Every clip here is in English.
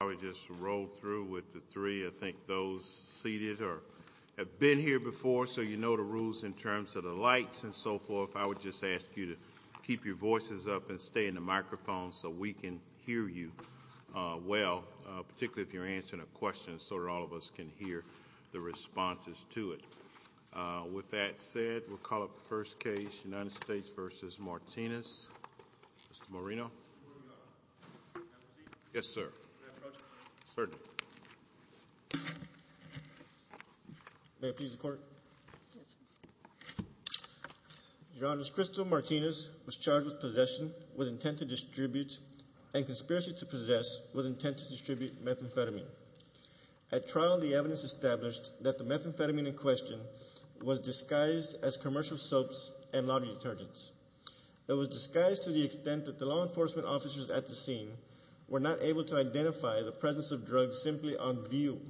I would just roll through with the three, I think those seated have been here before so you know the rules in terms of the lights and so forth. I would just ask you to keep your voices up and stay in the microphone so we can hear you well, particularly if you're answering a question so that all of us can hear the responses to it. With that said, we'll call up the first case, United States v. Martinez, Mr. Moreno. Mr. Moreno. Yes, sir. May I approach? Certainly. May it please the court? Yes, sir. Your Honor, Ms. Crystal Martinez was charged with possession with intent to distribute and conspiracy to possess with intent to distribute methamphetamine. At trial, the evidence established that the methamphetamine in question was disguised as commercial soaps and laundry detergents. It was disguised to the extent that the law enforcement officers at the scene were not able to identify the presence of drugs simply on view.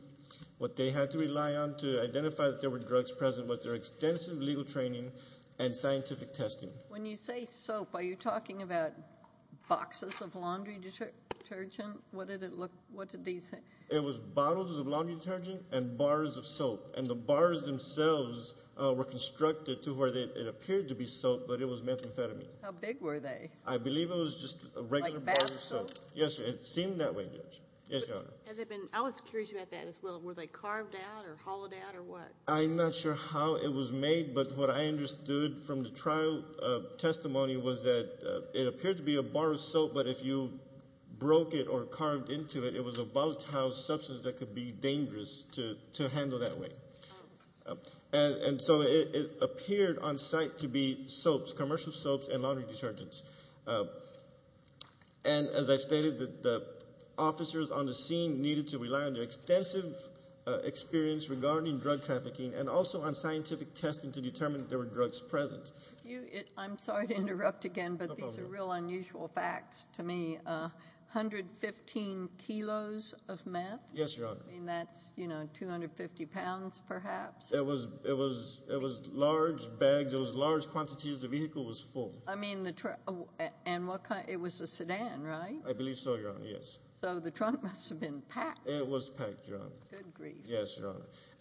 What they had to rely on to identify that there were drugs present was their extensive legal training and scientific testing. When you say soap, are you talking about boxes of laundry detergent? What did it look, what did they say? It was bottles of laundry detergent and bars of soap, and the bars themselves were constructed to where it appeared to be soap, but it was methamphetamine. How big were they? I believe it was just a regular bar of soap. Like bath soap? Yes, sir. It seemed that way, Judge. Yes, Your Honor. I was curious about that as well. Were they carved out or hollowed out or what? I'm not sure how it was made, but what I understood from the trial testimony was that it appeared to be a bar of soap, but if you broke it or carved into it, it was a volatile substance that could be dangerous to handle that way. And so it appeared on site to be soaps, commercial soaps and laundry detergents. And as I stated, the officers on the scene needed to rely on their extensive experience regarding drug trafficking and also on scientific testing to determine that there were drugs present. If you, I'm sorry to interrupt again, but these are real unusual facts to me, 115 kilos of meth? Yes, Your Honor. I mean, that's, you know, 250 pounds, perhaps? It was large bags, it was large quantities, the vehicle was full. I mean, and what kind, it was a sedan, right? I believe so, Your Honor, yes. So the trunk must have been packed. It was packed, Your Honor. Good grief. Yes, Your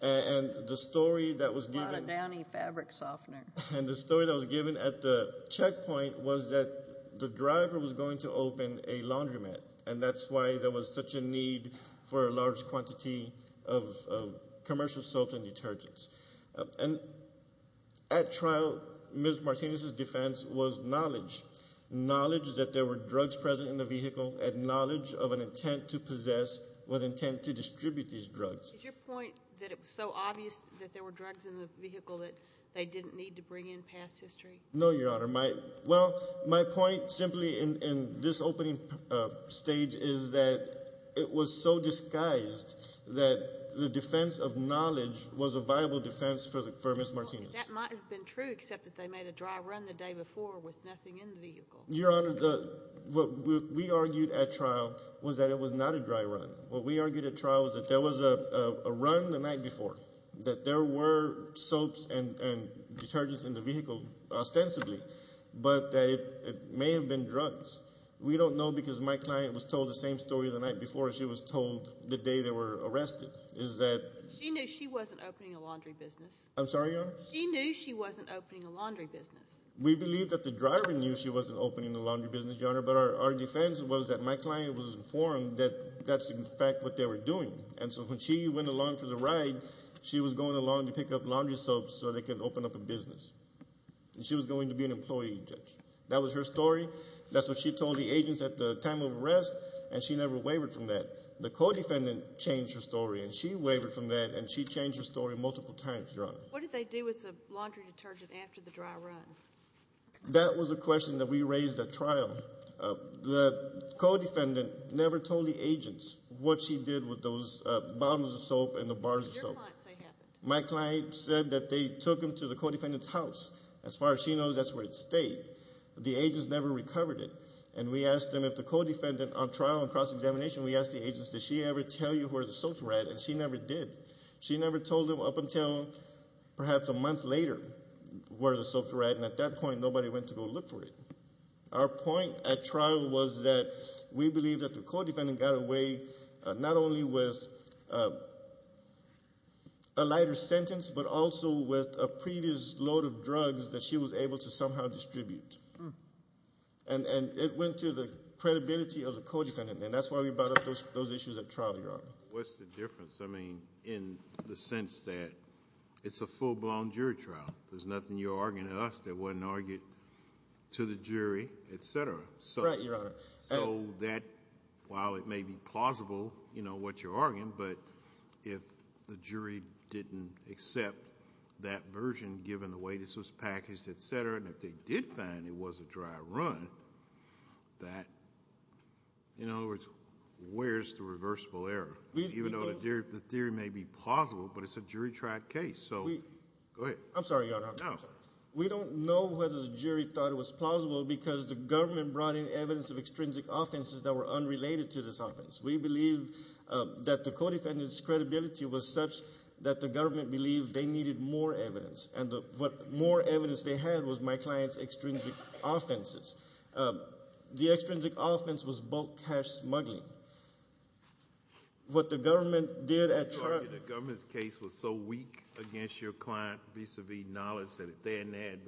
Honor. And the story that was given- A lot of downy fabric softener. And the story that was given at the checkpoint was that the driver was going to open a laundromat and that's why there was such a need for a large quantity of commercial soaps and detergents. And at trial, Ms. Martinez's defense was knowledge. Knowledge that there were drugs present in the vehicle and knowledge of an intent to possess with intent to distribute these drugs. Is your point that it was so obvious that there were drugs in the vehicle that they didn't need to bring in past history? No, Your Honor. Well, my point simply in this opening stage is that it was so disguised that the defense of knowledge was a viable defense for Ms. Martinez. That might have been true, except that they made a dry run the day before with nothing in the vehicle. Your Honor, what we argued at trial was that it was not a dry run. What we argued at trial was that there was a run the night before, that there were soaps and detergents in the vehicle, ostensibly, but that it may have been drugs. We don't know because my client was told the same story the night before she was told the day they were arrested, is that... She knew she wasn't opening a laundry business. I'm sorry, Your Honor? She knew she wasn't opening a laundry business. We believe that the driver knew she wasn't opening a laundry business, Your Honor, but our defense was that my client was informed that that's in fact what they were doing. And so when she went along for the ride, she was going along to pick up laundry soaps so they could open up a business, and she was going to be an employee, Judge. That was her story. That's what she told the agents at the time of arrest, and she never wavered from that. The co-defendant changed her story, and she wavered from that, and she changed her story multiple times, Your Honor. What did they do with the laundry detergent after the dry run? That was a question that we raised at trial. The co-defendant never told the agents what she did with those bottles of soap and the bars of soap. My client said that they took them to the co-defendant's house. As far as she knows, that's where it stayed. The agents never recovered it, and we asked them if the co-defendant, on trial and cross-examination, we asked the agents, did she ever tell you where the soaps were at, and she never did. She never told them up until perhaps a month later where the soaps were at, and at that point nobody went to go look for it. Our point at trial was that we believe that the co-defendant got away not only with a lighter sentence, but also with a previous load of drugs that she was able to somehow distribute. And it went to the credibility of the co-defendant, and that's why we brought up those issues at trial, Your Honor. What's the difference, I mean, in the sense that it's a full-blown jury trial. There's nothing you're arguing to us that wasn't argued to the jury, etc. So that, while it may be plausible what you're arguing, but if the jury didn't accept that version given the way this was packaged, etc., and if they did find it was a dry run, that, in other words, where's the reversible error? Even though the theory may be plausible, but it's a jury-tried case, so go ahead. I'm sorry, Your Honor. No. We don't know whether the jury thought it was plausible because the government brought in evidence of extrinsic offenses that were unrelated to this offense. We believe that the co-defendant's credibility was such that the government believed they needed more evidence. And what more evidence they had was my client's extrinsic offenses. The extrinsic offense was bulk cash smuggling. What the government did at trial- I mean, did the government have any evidence of any knowledge that if they hadn't had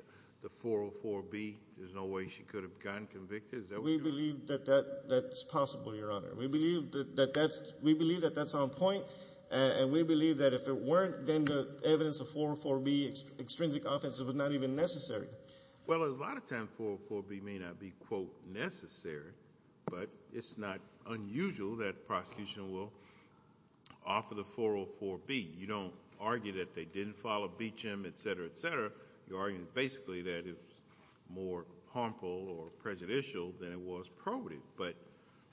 the 404B, there's no way she could have gotten convicted? We believe that that's possible, Your Honor. We believe that that's on point, and we believe that if it weren't, then the evidence of 404B extrinsic offenses was not even necessary. Well, a lot of times, 404B may not be, quote, necessary, but it's not unusual that prosecution will offer the 404B. You don't argue that they didn't follow BCHM, etc., etc. You're arguing basically that it's more harmful or prejudicial than it was probative. But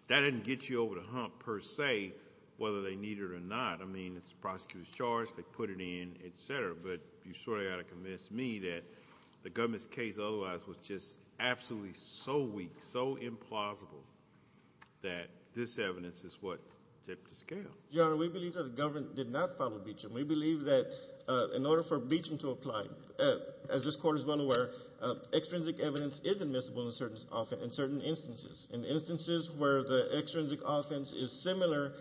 that didn't get you over the hump, per se, whether they need it or not. I mean, it's the prosecutor's charge, they put it in, etc. But you sort of got to convince me that the government's case otherwise was just absolutely so weak, so implausible, that this evidence is what tipped the scale. Your Honor, we believe that the government did not follow BCHM. We believe that in order for BCHM to apply, as this court is well aware, extrinsic evidence is admissible in certain instances. In instances where the extrinsic offense is similar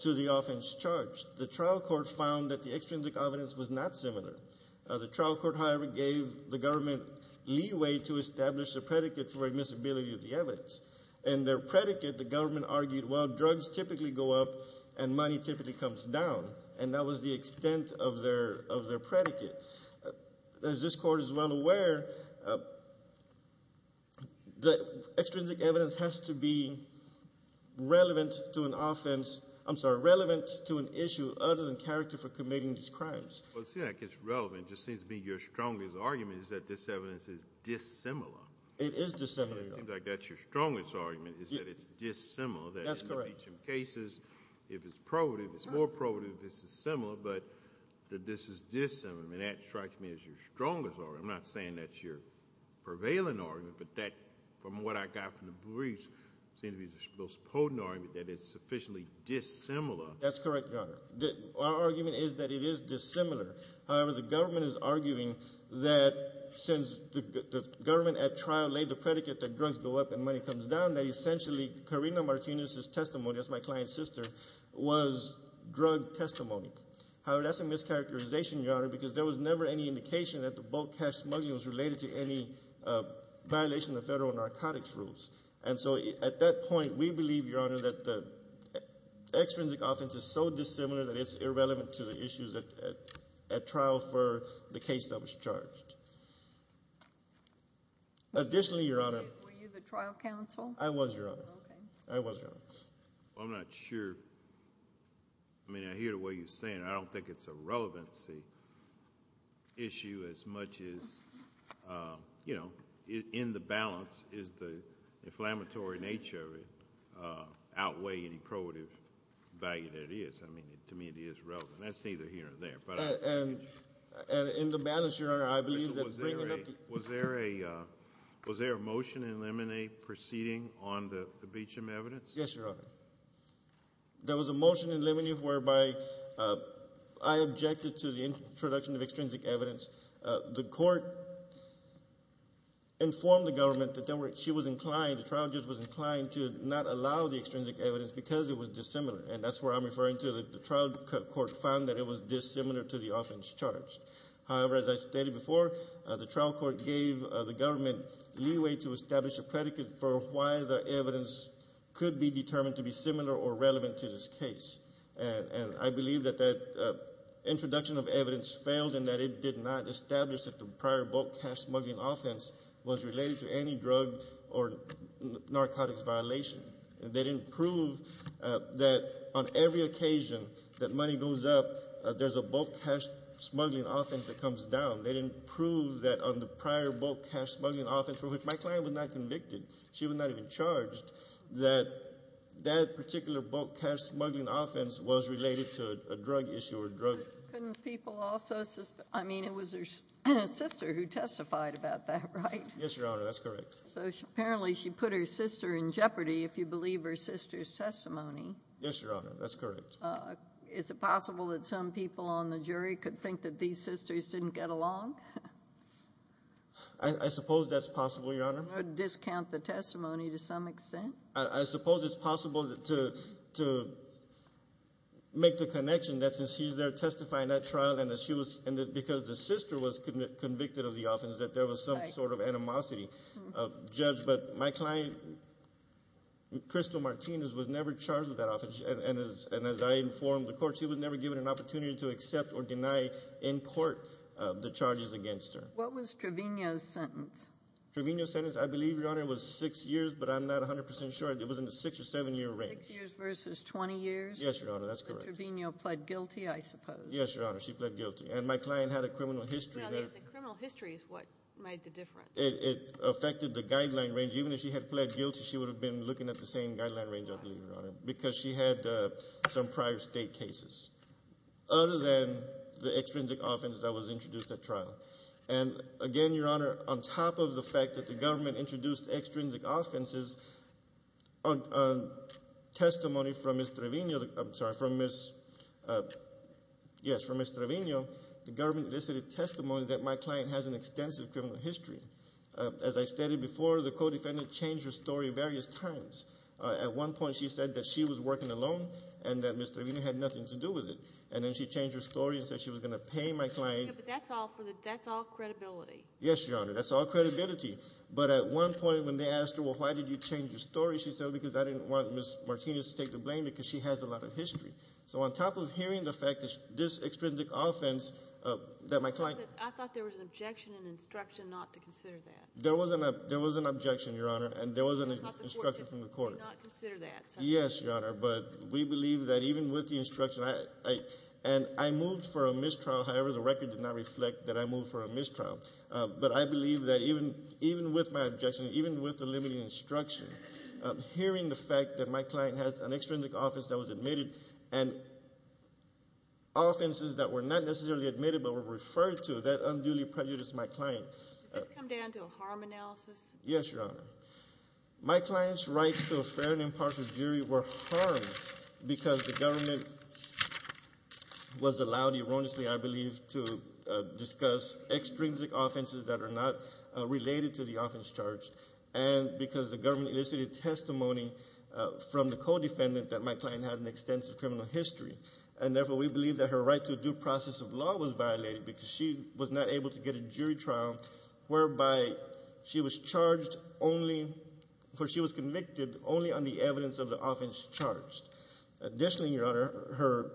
to the offense charged, the trial court found that the extrinsic evidence was not similar. The trial court, however, gave the government leeway to establish a predicate for admissibility of the evidence. In their predicate, the government argued, well, drugs typically go up and money typically comes down. And that was the extent of their predicate. As this court is well aware, the extrinsic evidence has to be relevant to an offense, I'm sorry, relevant to an issue other than character for committing these crimes. Well, seeing that it's relevant, it just seems to be your strongest argument is that this evidence is dissimilar. It is dissimilar, Your Honor. It seems like that's your strongest argument, is that it's dissimilar, that in the BCHM cases, if it's probative, it's more probative if it's dissimilar, but that this is dissimilar. I mean, that strikes me as your strongest argument. I'm not saying that's your prevailing argument, but that, from what I got from the briefs, seems to be the most potent argument that it's sufficiently dissimilar. That's correct, Your Honor. Our argument is that it is dissimilar. However, the government is arguing that since the government at trial laid the predicate that drugs go up and money comes down, that essentially Karina Martinez's testimony, that's my client's sister, was drug testimony. However, that's a mischaracterization, Your Honor, because there was never any indication that the bulk cash smuggling was related to any violation of federal narcotics rules. And so at that point, we believe, Your Honor, that the extrinsic offense is so that at trial for the case that was charged. Additionally, Your Honor- Were you the trial counsel? I was, Your Honor. I was, Your Honor. I'm not sure. I mean, I hear the way you're saying it. I don't think it's a relevancy issue as much as, you know, in the balance is the inflammatory nature of it outweigh any probative value that it is. I mean, to me, it is relevant. That's either here or there, but I- And in the balance, Your Honor, I believe that bringing up- Was there a motion in limine proceeding on the Beecham evidence? Yes, Your Honor. There was a motion in limine whereby I objected to the introduction of extrinsic evidence. The court informed the government that she was inclined, the trial judge was inclined to not allow the extrinsic evidence because it was dissimilar. And that's where I'm referring to, the trial court found that it was dissimilar to the offense charged. However, as I stated before, the trial court gave the government leeway to establish a predicate for why the evidence could be determined to be similar or relevant to this case. And I believe that that introduction of evidence failed and that it did not establish that the prior bulk cash smuggling offense was related to any drug or narcotics violation. They didn't prove that on every occasion that money goes up, there's a bulk cash smuggling offense that comes down. They didn't prove that on the prior bulk cash smuggling offense, for which my client was not convicted, she was not even charged, that that particular bulk cash smuggling offense was related to a drug issue or drug. Couldn't people also, I mean, it was her sister who testified about that, right? Yes, Your Honor, that's correct. So apparently she put her sister in jeopardy, if you believe her sister's testimony. Yes, Your Honor, that's correct. Is it possible that some people on the jury could think that these sisters didn't get along? I suppose that's possible, Your Honor. Discount the testimony to some extent. I suppose it's possible to make the connection that since she's there testifying that trial and because the sister was convicted of the offense, that there was some sort of animosity of judge. But my client, Crystal Martinez, was never charged with that offense. And as I informed the court, she was never given an opportunity to accept or deny in court the charges against her. What was Trevino's sentence? Trevino's sentence, I believe, Your Honor, was six years, but I'm not 100% sure. It was in the six or seven year range. Six years versus 20 years? Yes, Your Honor, that's correct. But Trevino pled guilty, I suppose. Yes, Your Honor, she pled guilty. And my client had a criminal history there. No, the criminal history is what made the difference. It affected the guideline range. Even if she had pled guilty, she would have been looking at the same guideline range, I believe, Your Honor. Because she had some prior state cases. Other than the extrinsic offenses that was introduced at trial. And again, Your Honor, on top of the fact that the government introduced extrinsic offenses, on testimony from Ms. Trevino, I'm sorry, from Ms., yes, from Ms. Trevino. The government listed a testimony that my client has an extensive criminal history. As I stated before, the co-defendant changed her story various times. At one point, she said that she was working alone and that Ms. Trevino had nothing to do with it. And then she changed her story and said she was going to pay my client. Yeah, but that's all credibility. Yes, Your Honor, that's all credibility. But at one point, when they asked her, well, why did you change your story? She said, because I didn't want Ms. Martinez to take the blame, because she has a lot of history. So on top of hearing the fact that this extrinsic offense that my client- I thought there was an objection and instruction not to consider that. There was an objection, Your Honor, and there was an instruction from the court. I thought the court did not consider that. Yes, Your Honor, but we believe that even with the instruction, and I moved for a mistrial. However, the record did not reflect that I moved for a mistrial. But I believe that even with my objection, even with the limiting instruction, hearing the fact that my client has an extrinsic offense that was admitted and offenses that were not necessarily admitted but were referred to, that unduly prejudiced my client. Does this come down to a harm analysis? Yes, Your Honor. My client's rights to a fair and impartial jury were harmed because the government was allowed erroneously, I believe, to discuss extrinsic offenses that are not related to the offense charged. And because the government elicited testimony from the co-defendant that my client had an extensive criminal history. And therefore, we believe that her right to a due process of law was violated because she was not able to get a jury trial. Whereby she was charged only, for she was convicted only on the evidence of the offense charged. Additionally, Your Honor, her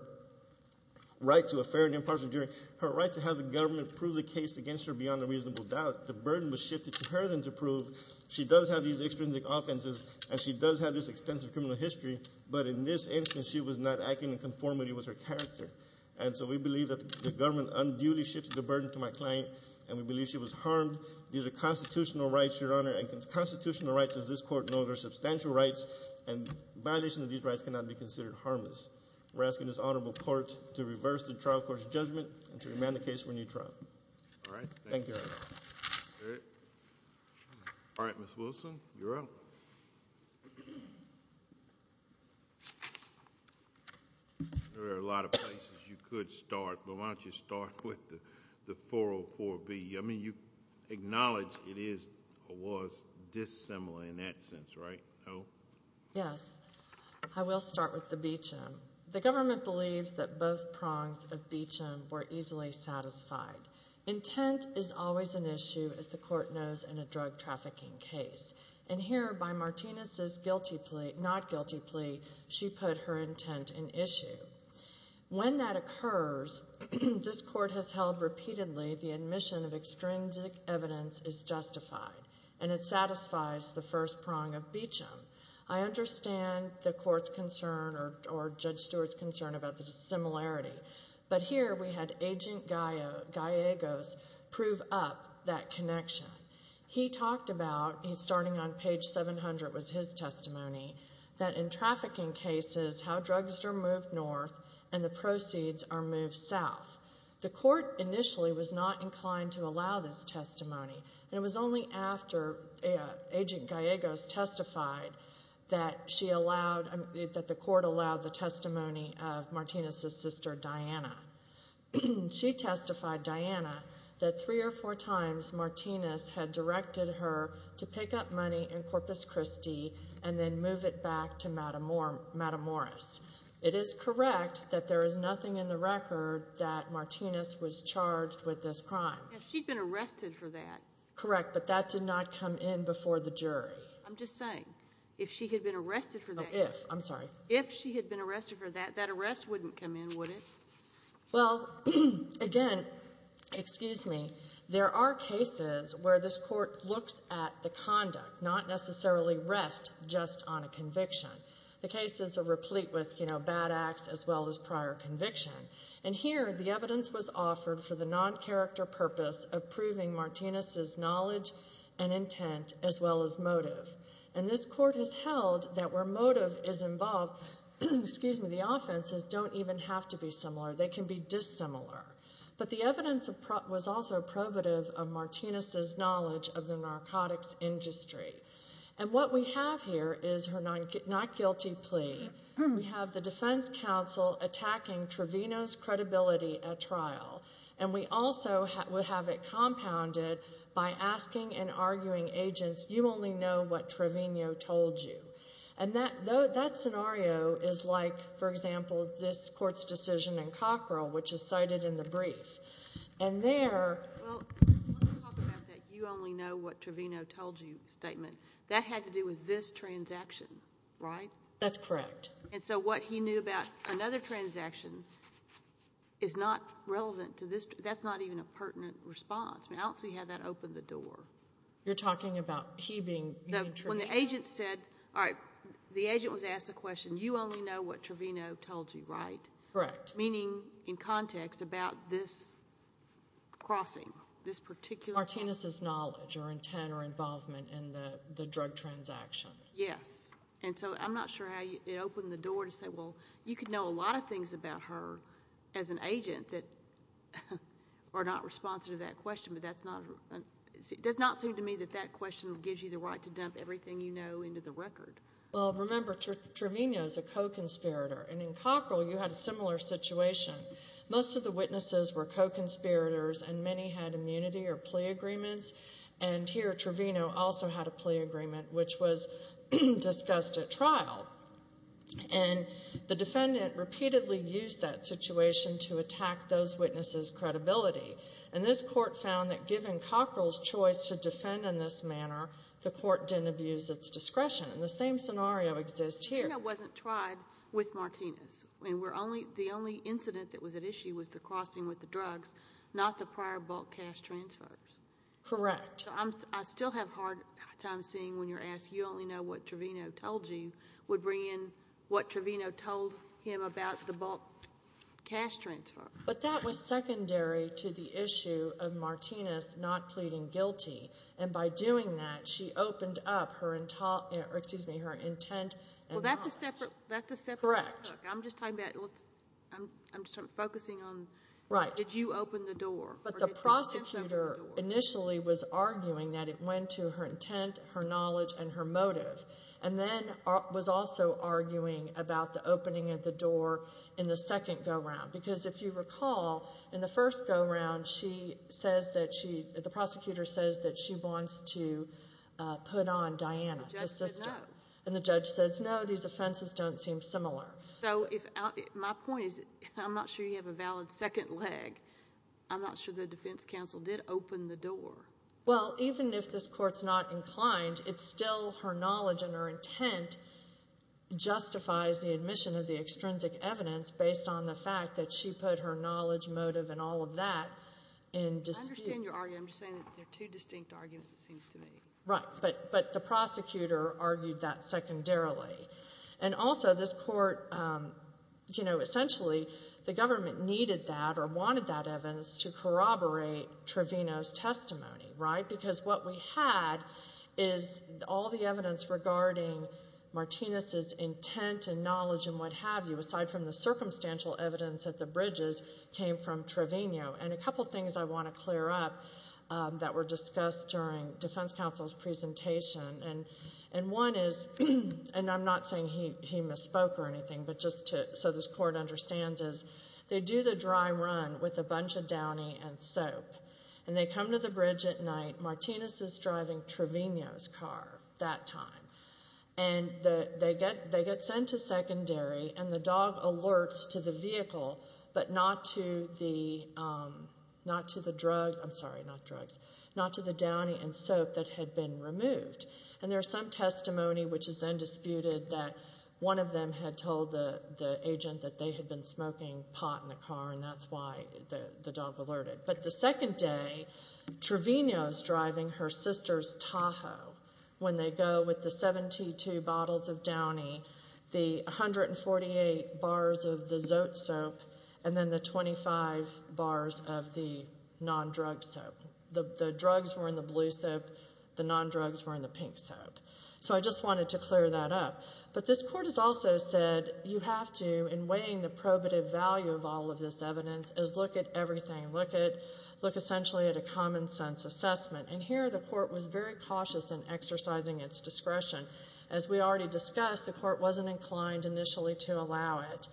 right to a fair and impartial jury, her right to have the government prove the case against her beyond a reasonable doubt, the burden was shifted to her than to prove. She does have these extrinsic offenses, and she does have this extensive criminal history. But in this instance, she was not acting in conformity with her character. And so we believe that the government unduly shifted the burden to my client, and we believe she was harmed. These are constitutional rights, Your Honor, and constitutional rights, as this court knows, are substantial rights. And violation of these rights cannot be considered harmless. We're asking this honorable court to reverse the trial court's judgment and to remand the case for a new trial. All right. Thank you, Your Honor. All right, Ms. Wilson, you're up. There are a lot of places you could start, but why don't you start with the 404B. I mean, you acknowledge it is or was dissimilar in that sense, right? Yes, I will start with the Beecham. The government believes that both prongs of Beecham were easily satisfied. Intent is always an issue, as the court knows, in a drug trafficking case. And here, by Martinez's not guilty plea, she put her intent in issue. When that occurs, this court has held repeatedly the admission of extrinsic evidence is justified. And it satisfies the first prong of Beecham. I understand the court's concern, or Judge Stewart's concern, about the dissimilarity. But here, we had Agent Gallegos prove up that connection. He talked about, starting on page 700 was his testimony, that in trafficking cases, how drugs are moved north and the proceeds are moved south. The court initially was not inclined to allow this testimony. And it was only after Agent Gallegos testified that she allowed, that the court allowed the testimony of Martinez's sister, Diana. She testified, Diana, that three or four times, Martinez had directed her to pick up money in Corpus Christi and then move it back to Matamoros. It is correct that there is nothing in the record that Martinez was charged with this crime. If she'd been arrested for that. Correct, but that did not come in before the jury. I'm just saying, if she had been arrested for that. If, I'm sorry. If she had been arrested for that, that arrest wouldn't come in, would it? Well, again, excuse me. There are cases where this court looks at the conduct, not necessarily rest just on a conviction. The cases are replete with bad acts as well as prior conviction. And here, the evidence was offered for the non-character purpose of proving Martinez's knowledge and intent as well as motive. And this court has held that where motive is involved, excuse me, the offenses don't even have to be similar. They can be dissimilar. But the evidence was also probative of Martinez's knowledge of the narcotics industry. And what we have here is her not guilty plea. We have the defense counsel attacking Trevino's credibility at trial. And we also have it compounded by asking and arguing agents, you only know what Trevino told you. And that scenario is like, for example, this court's decision in Cockrell, which is cited in the brief. And there- Well, let's talk about that you only know what Trevino told you statement. That had to do with this transaction, right? That's correct. And so what he knew about another transaction is not relevant to this. That's not even a pertinent response. I don't see how that opened the door. You're talking about he being- When the agent said, all right, the agent was asked the question, you only know what Trevino told you, right? Correct. Meaning, in context, about this crossing, this particular- Martinez's knowledge or intent or involvement in the drug transaction. Yes. And so I'm not sure how it opened the door to say, well, you could know a lot of things about her as an agent that are not responsive to that question. But that's not, it does not seem to me that that question gives you the right to dump everything you know into the record. Well, remember, Trevino's a co-conspirator. And in Cockrell, you had a similar situation. Most of the witnesses were co-conspirators and many had immunity or plea agreements. And here, Trevino also had a plea agreement, which was discussed at trial. And the defendant repeatedly used that situation to attack those witnesses' credibility. And this court found that given Cockrell's choice to defend in this manner, the court didn't abuse its discretion. And the same scenario exists here. Trevino wasn't tried with Martinez. I mean, the only incident that was at issue was the crossing with the drugs, not the prior bulk cash transfers. Correct. I still have a hard time seeing when you're asked, you only know what Trevino told you, would bring in what Trevino told him about the bulk cash transfer. But that was secondary to the issue of Martinez not pleading guilty. And by doing that, she opened up her, excuse me, her intent. Well, that's a separate- Correct. I'm just talking about, I'm focusing on, did you open the door? But the prosecutor initially was arguing that it went to her intent, her knowledge, and her motive. And then was also arguing about the opening of the door in the second go-round. Because if you recall, in the first go-round, she says that she, the prosecutor says that she wants to put on Diana. The judge said no. And the judge says, no, these offenses don't seem similar. So if, my point is, I'm not sure you have a valid second leg. I'm not sure the defense counsel did open the door. Well, even if this court's not inclined, it's still her knowledge and her intent justifies the admission of the extrinsic evidence, based on the fact that she put her knowledge, motive, and all of that in dispute. I understand your argument, I'm just saying that they're two distinct arguments, it seems to me. Right, but the prosecutor argued that secondarily. And also, this court, essentially, the government needed that or wanted that evidence to corroborate Trevino's testimony, right? Because what we had is all the evidence regarding Martinez's intent and knowledge and what have you, aside from the circumstantial evidence at the bridges, came from Trevino. And a couple things I want to clear up that were discussed during defense counsel's presentation. And one is, and I'm not saying he misspoke or anything, but just so this court understands is, they do the dry run with a bunch of downy and soap. And they come to the bridge at night, Martinez is driving Trevino's car that time. And they get sent to secondary, and the dog alerts to the vehicle, but not to the drugs, I'm sorry, not drugs. Not to the downy and soap that had been removed. And there's some testimony which is then disputed that one of them had told the agent that they had been smoking pot in the car, and that's why the dog alerted. But the second day, Trevino's driving her sister's Tahoe. When they go with the 72 bottles of downy, the 148 bars of the Zoet soap, and then the 25 bars of the non-drug soap. The drugs were in the blue soap, the non-drugs were in the pink soap. So I just wanted to clear that up. But this court has also said, you have to, in weighing the probative value of all of this evidence, is look at everything. Look essentially at a common sense assessment. And here the court was very cautious in exercising its discretion. As we already discussed, the court wasn't inclined initially to allow it.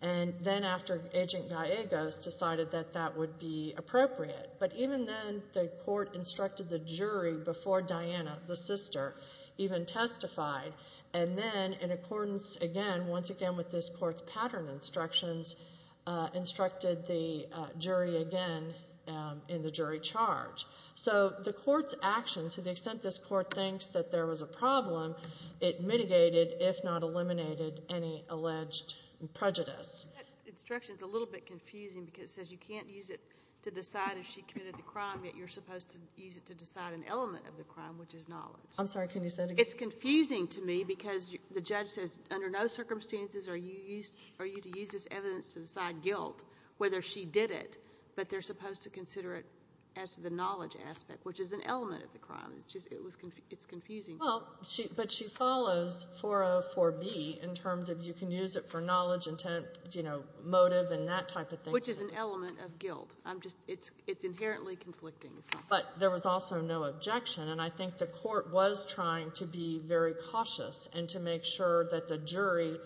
And then after Agent Gallegos decided that that would be appropriate. But even then, the court instructed the jury before Diana, the sister, even testified. And then in accordance again, once again with this court's pattern instructions, instructed the jury again in the jury charge. So the court's actions, to the extent this court thinks that there was a problem, it mitigated, if not eliminated, any alleged prejudice. That instruction's a little bit confusing because it says you can't use it to decide if she committed the crime, yet you're supposed to use it to decide an element of the crime, which is knowledge. I'm sorry, can you say that again? It's confusing to me because the judge says, under no circumstances are you to use this evidence to decide guilt, whether she did it. But they're supposed to consider it as the knowledge aspect, which is an element of the crime. It's confusing. Well, but she follows 404B in terms of you can use it for knowledge, intent, motive, and that type of thing. Which is an element of guilt. I'm just, it's inherently conflicting. But there was also no objection. And I think the court was trying to be very cautious and to make sure that the jury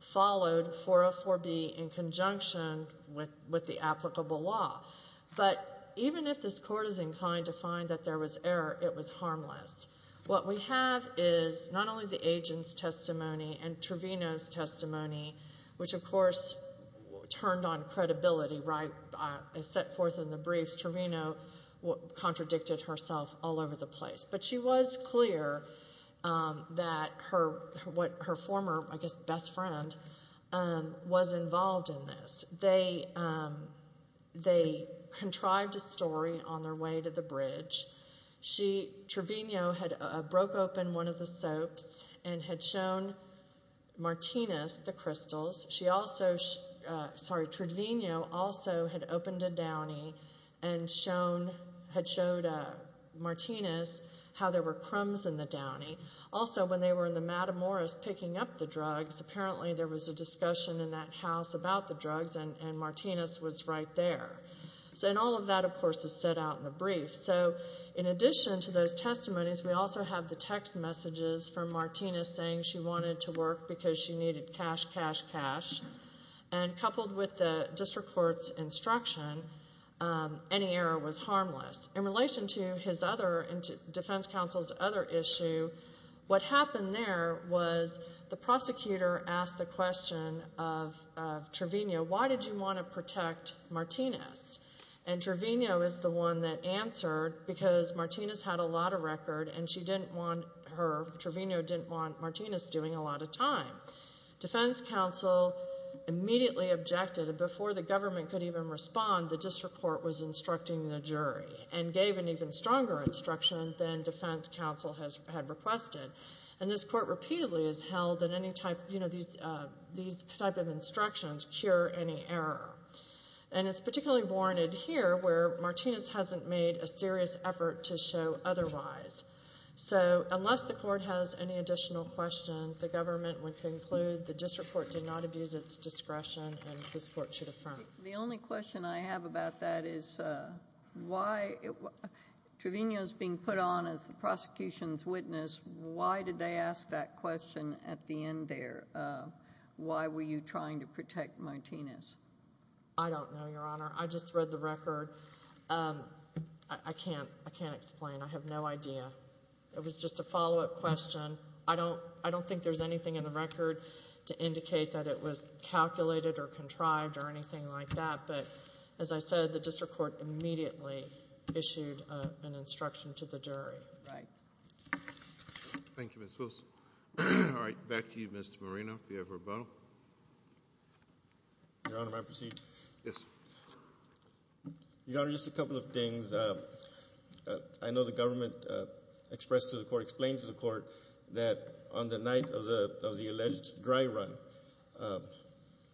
followed 404B in conjunction with the applicable law. But even if this court is inclined to find that there was error, it was harmless. What we have is not only the agent's testimony and Trevino's testimony, which of course turned on credibility, right, as set forth in the briefs. Trevino contradicted herself all over the place. But she was clear that her former, I guess, best friend was involved in this. They contrived a story on their way to the bridge. Trevino had broke open one of the soaps and had shown Martinez the crystals. She also, sorry, Trevino also had opened a downy and had showed Martinez how there were crumbs in the downy. Also, when they were in the Matamoros picking up the drugs, apparently there was a discussion in that house about the drugs and Martinez was right there. And all of that, of course, is set out in the brief. So in addition to those testimonies, we also have the text messages from Martinez saying she wanted to work because she needed cash, cash, cash. And coupled with the district court's instruction, any error was harmless. In relation to his other, defense counsel's other issue, what happened there was the prosecutor asked the question of Trevino, why did you want to protect Martinez? And Trevino is the one that answered because Martinez had a lot of record and she didn't want her, Trevino didn't want Martinez doing a lot of time. Defense counsel immediately objected and before the government could even respond, the district court was instructing the jury and gave an even stronger instruction than defense counsel had requested. And this court repeatedly has held that any type, these type of instructions cure any error. And it's particularly warranted here where Martinez hasn't made a serious effort to show otherwise. So unless the court has any additional questions, the government would conclude the district court did not abuse its discretion and this court should affirm it. The only question I have about that is why, Trevino's being put on as the prosecution's witness. Why did they ask that question at the end there? Why were you trying to protect Martinez? I don't know, Your Honor. I just read the record, I can't explain, I have no idea. It was just a follow-up question. I don't think there's anything in the record to indicate that it was calculated or contrived or anything like that, but as I said, the district court immediately issued an instruction to the jury. Right. Thank you, Ms. Wilson. All right, back to you, Mr. Marino, if you have a rebuttal. Your Honor, may I proceed? Yes. Your Honor, just a couple of things. I know the government expressed to the court, explained to the court, that on the night of the alleged dry run,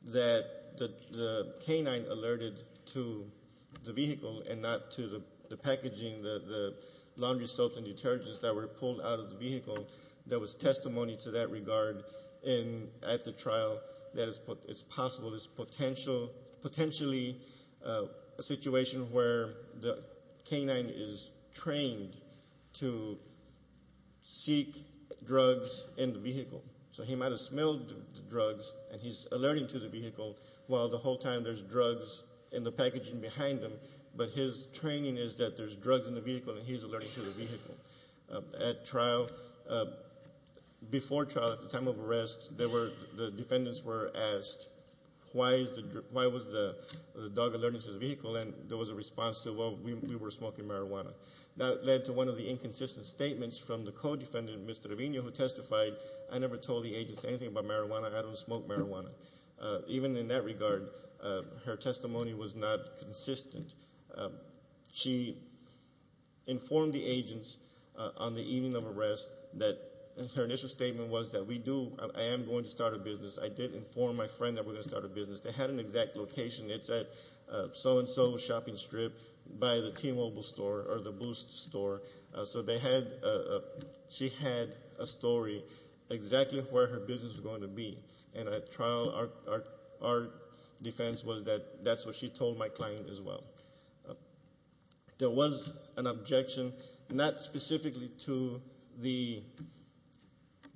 that the canine alerted to the vehicle and not to the packaging, the laundry soaps and detergents that were pulled out of the vehicle. There was testimony to that regard at the trial that it's possible, it's potentially a situation where the canine is trained to seek drugs in the vehicle. So he might have smelled the drugs and he's alerting to the vehicle, while the whole time there's drugs in the packaging behind him. But his training is that there's drugs in the vehicle and he's alerting to the vehicle. At trial, before trial, at the time of arrest, the defendants were asked, why was the dog alerting to the vehicle, and there was a response to, well, we were smoking marijuana. That led to one of the inconsistent statements from the co-defendant, Mr. Avino, who testified, I never told the agents anything about marijuana, I don't smoke marijuana. Even in that regard, her testimony was not consistent. She informed the agents on the evening of arrest that her initial statement was that we do, I am going to start a business. I did inform my friend that we're going to start a business. They had an exact location. It's at so and so shopping strip by the T-Mobile store or the Boost store. So they had, she had a story exactly where her business was going to be. And at trial, our defense was that that's what she told my client as well. There was an objection, not specifically to the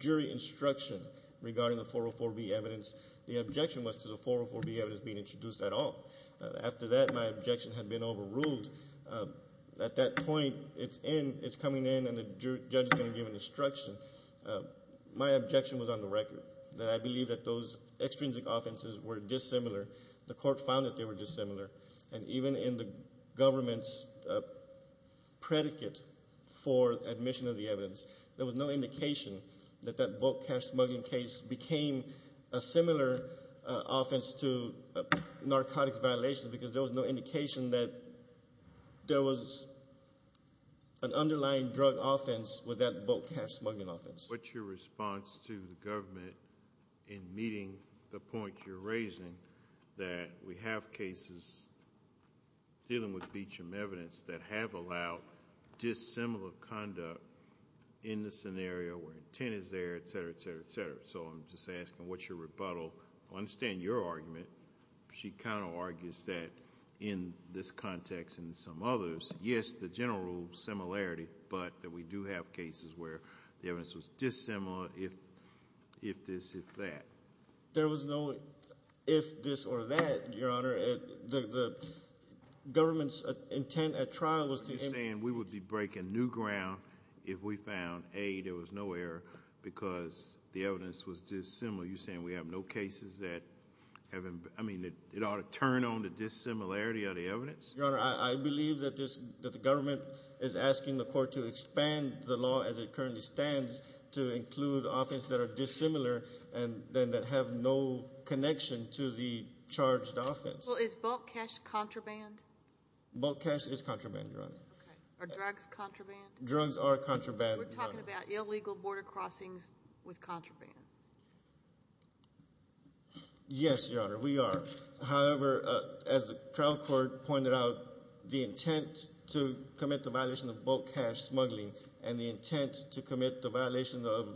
jury instruction regarding the 404B evidence. The objection was to the 404B evidence being introduced at all. After that, my objection had been overruled. At that point, it's coming in and the judge is going to give an instruction. My objection was on the record, that I believe that those extrinsic offenses were dissimilar. The court found that they were dissimilar. And even in the government's predicate for admission of the evidence, there was no indication that that bulk cash smuggling case became a similar offense to an offense. What's your response to the government in meeting the point you're raising that we have cases dealing with beachroom evidence that have allowed dissimilar conduct in the scenario where intent is there, etc., etc., etc. So I'm just asking, what's your rebuttal? I understand your argument. She kind of argues that in this context and in some others, yes, the general rule of similarity, but that we do have cases where the evidence was dissimilar, if this, if that. There was no if this or that, Your Honor. The government's intent at trial was to- Are you saying we would be breaking new ground if we found, A, there was no error because the evidence was dissimilar. You're saying we have no cases that have, I mean, Your Honor, I believe that this, that the government is asking the court to expand the law as it currently stands to include offense that are dissimilar and then that have no connection to the charged offense. Well, is bulk cash contraband? Bulk cash is contraband, Your Honor. Are drugs contraband? Drugs are contraband, Your Honor. We're talking about illegal border crossings with contraband. Yes, Your Honor, we are. However, as the trial court pointed out, the intent to commit the violation of bulk cash smuggling and the intent to commit the violation of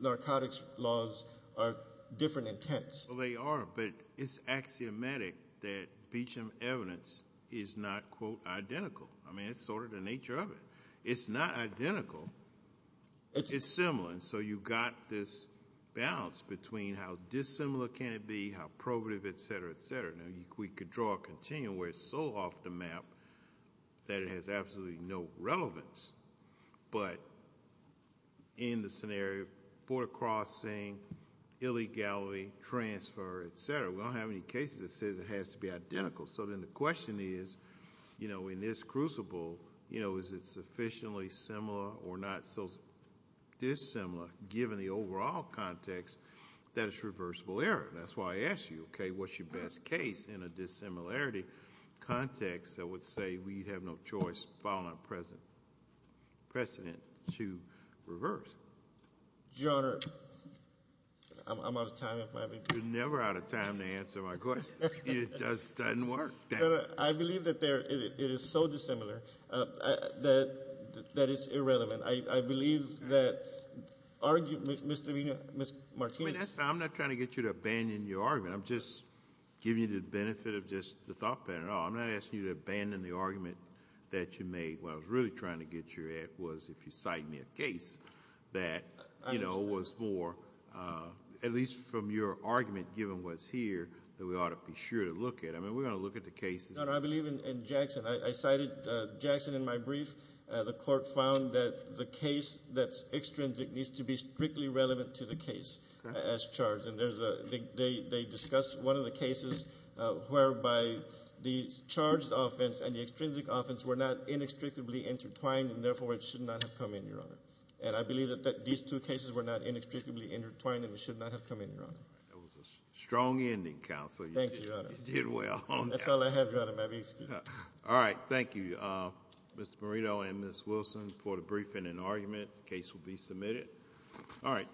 narcotics laws are different intents. Well, they are, but it's axiomatic that Beecham evidence is not, quote, identical. I mean, it's sort of the nature of it. It's not identical. It's similar, and so you got this balance between how dissimilar can it be, how probative, et cetera, et cetera. Now, we could draw a continuum where it's so off the map that it has absolutely no relevance, but in the scenario of border crossing, illegality, transfer, et cetera, we don't have any cases that says it has to be identical. So then the question is, you know, in this crucible, you know, is it sufficiently similar or not so dissimilar given the overall context that it's reversible error? That's why I asked you, okay, what's your best case in a dissimilarity context that would say we have no choice following precedent to reverse? Your Honor, I'm out of time if I may be. You're never out of time to answer my question. It just doesn't work. I believe that it is so dissimilar that it's irrelevant. I believe that argument, Mr. Munoz, Ms. Martinez. I'm not trying to get you to abandon your argument. I'm just giving you the benefit of just the thought that, you know, I'm not asking you to abandon the argument that you made. What I was really trying to get you at was if you cite me a case that, you know, was more, at least from your argument given what's here that we ought to be sure to look at. I mean, we're going to look at the cases. No, no, I believe in Jackson. I cited Jackson in my brief. The court found that the case that's extrinsic needs to be strictly relevant to the case. As charged. And there's a, they discussed one of the cases whereby the charged offense and the extrinsic offense were not inextricably intertwined. And therefore, it should not have come in, Your Honor. And I believe that these two cases were not inextricably intertwined and should not have come in, Your Honor. That was a strong ending, Counsel. Thank you, Your Honor. You did well. That's all I have, Your Honor. May I be excused? All right. Thank you, Mr. Morito and Ms. Wilson for the briefing and argument. The case will be submitted. All right.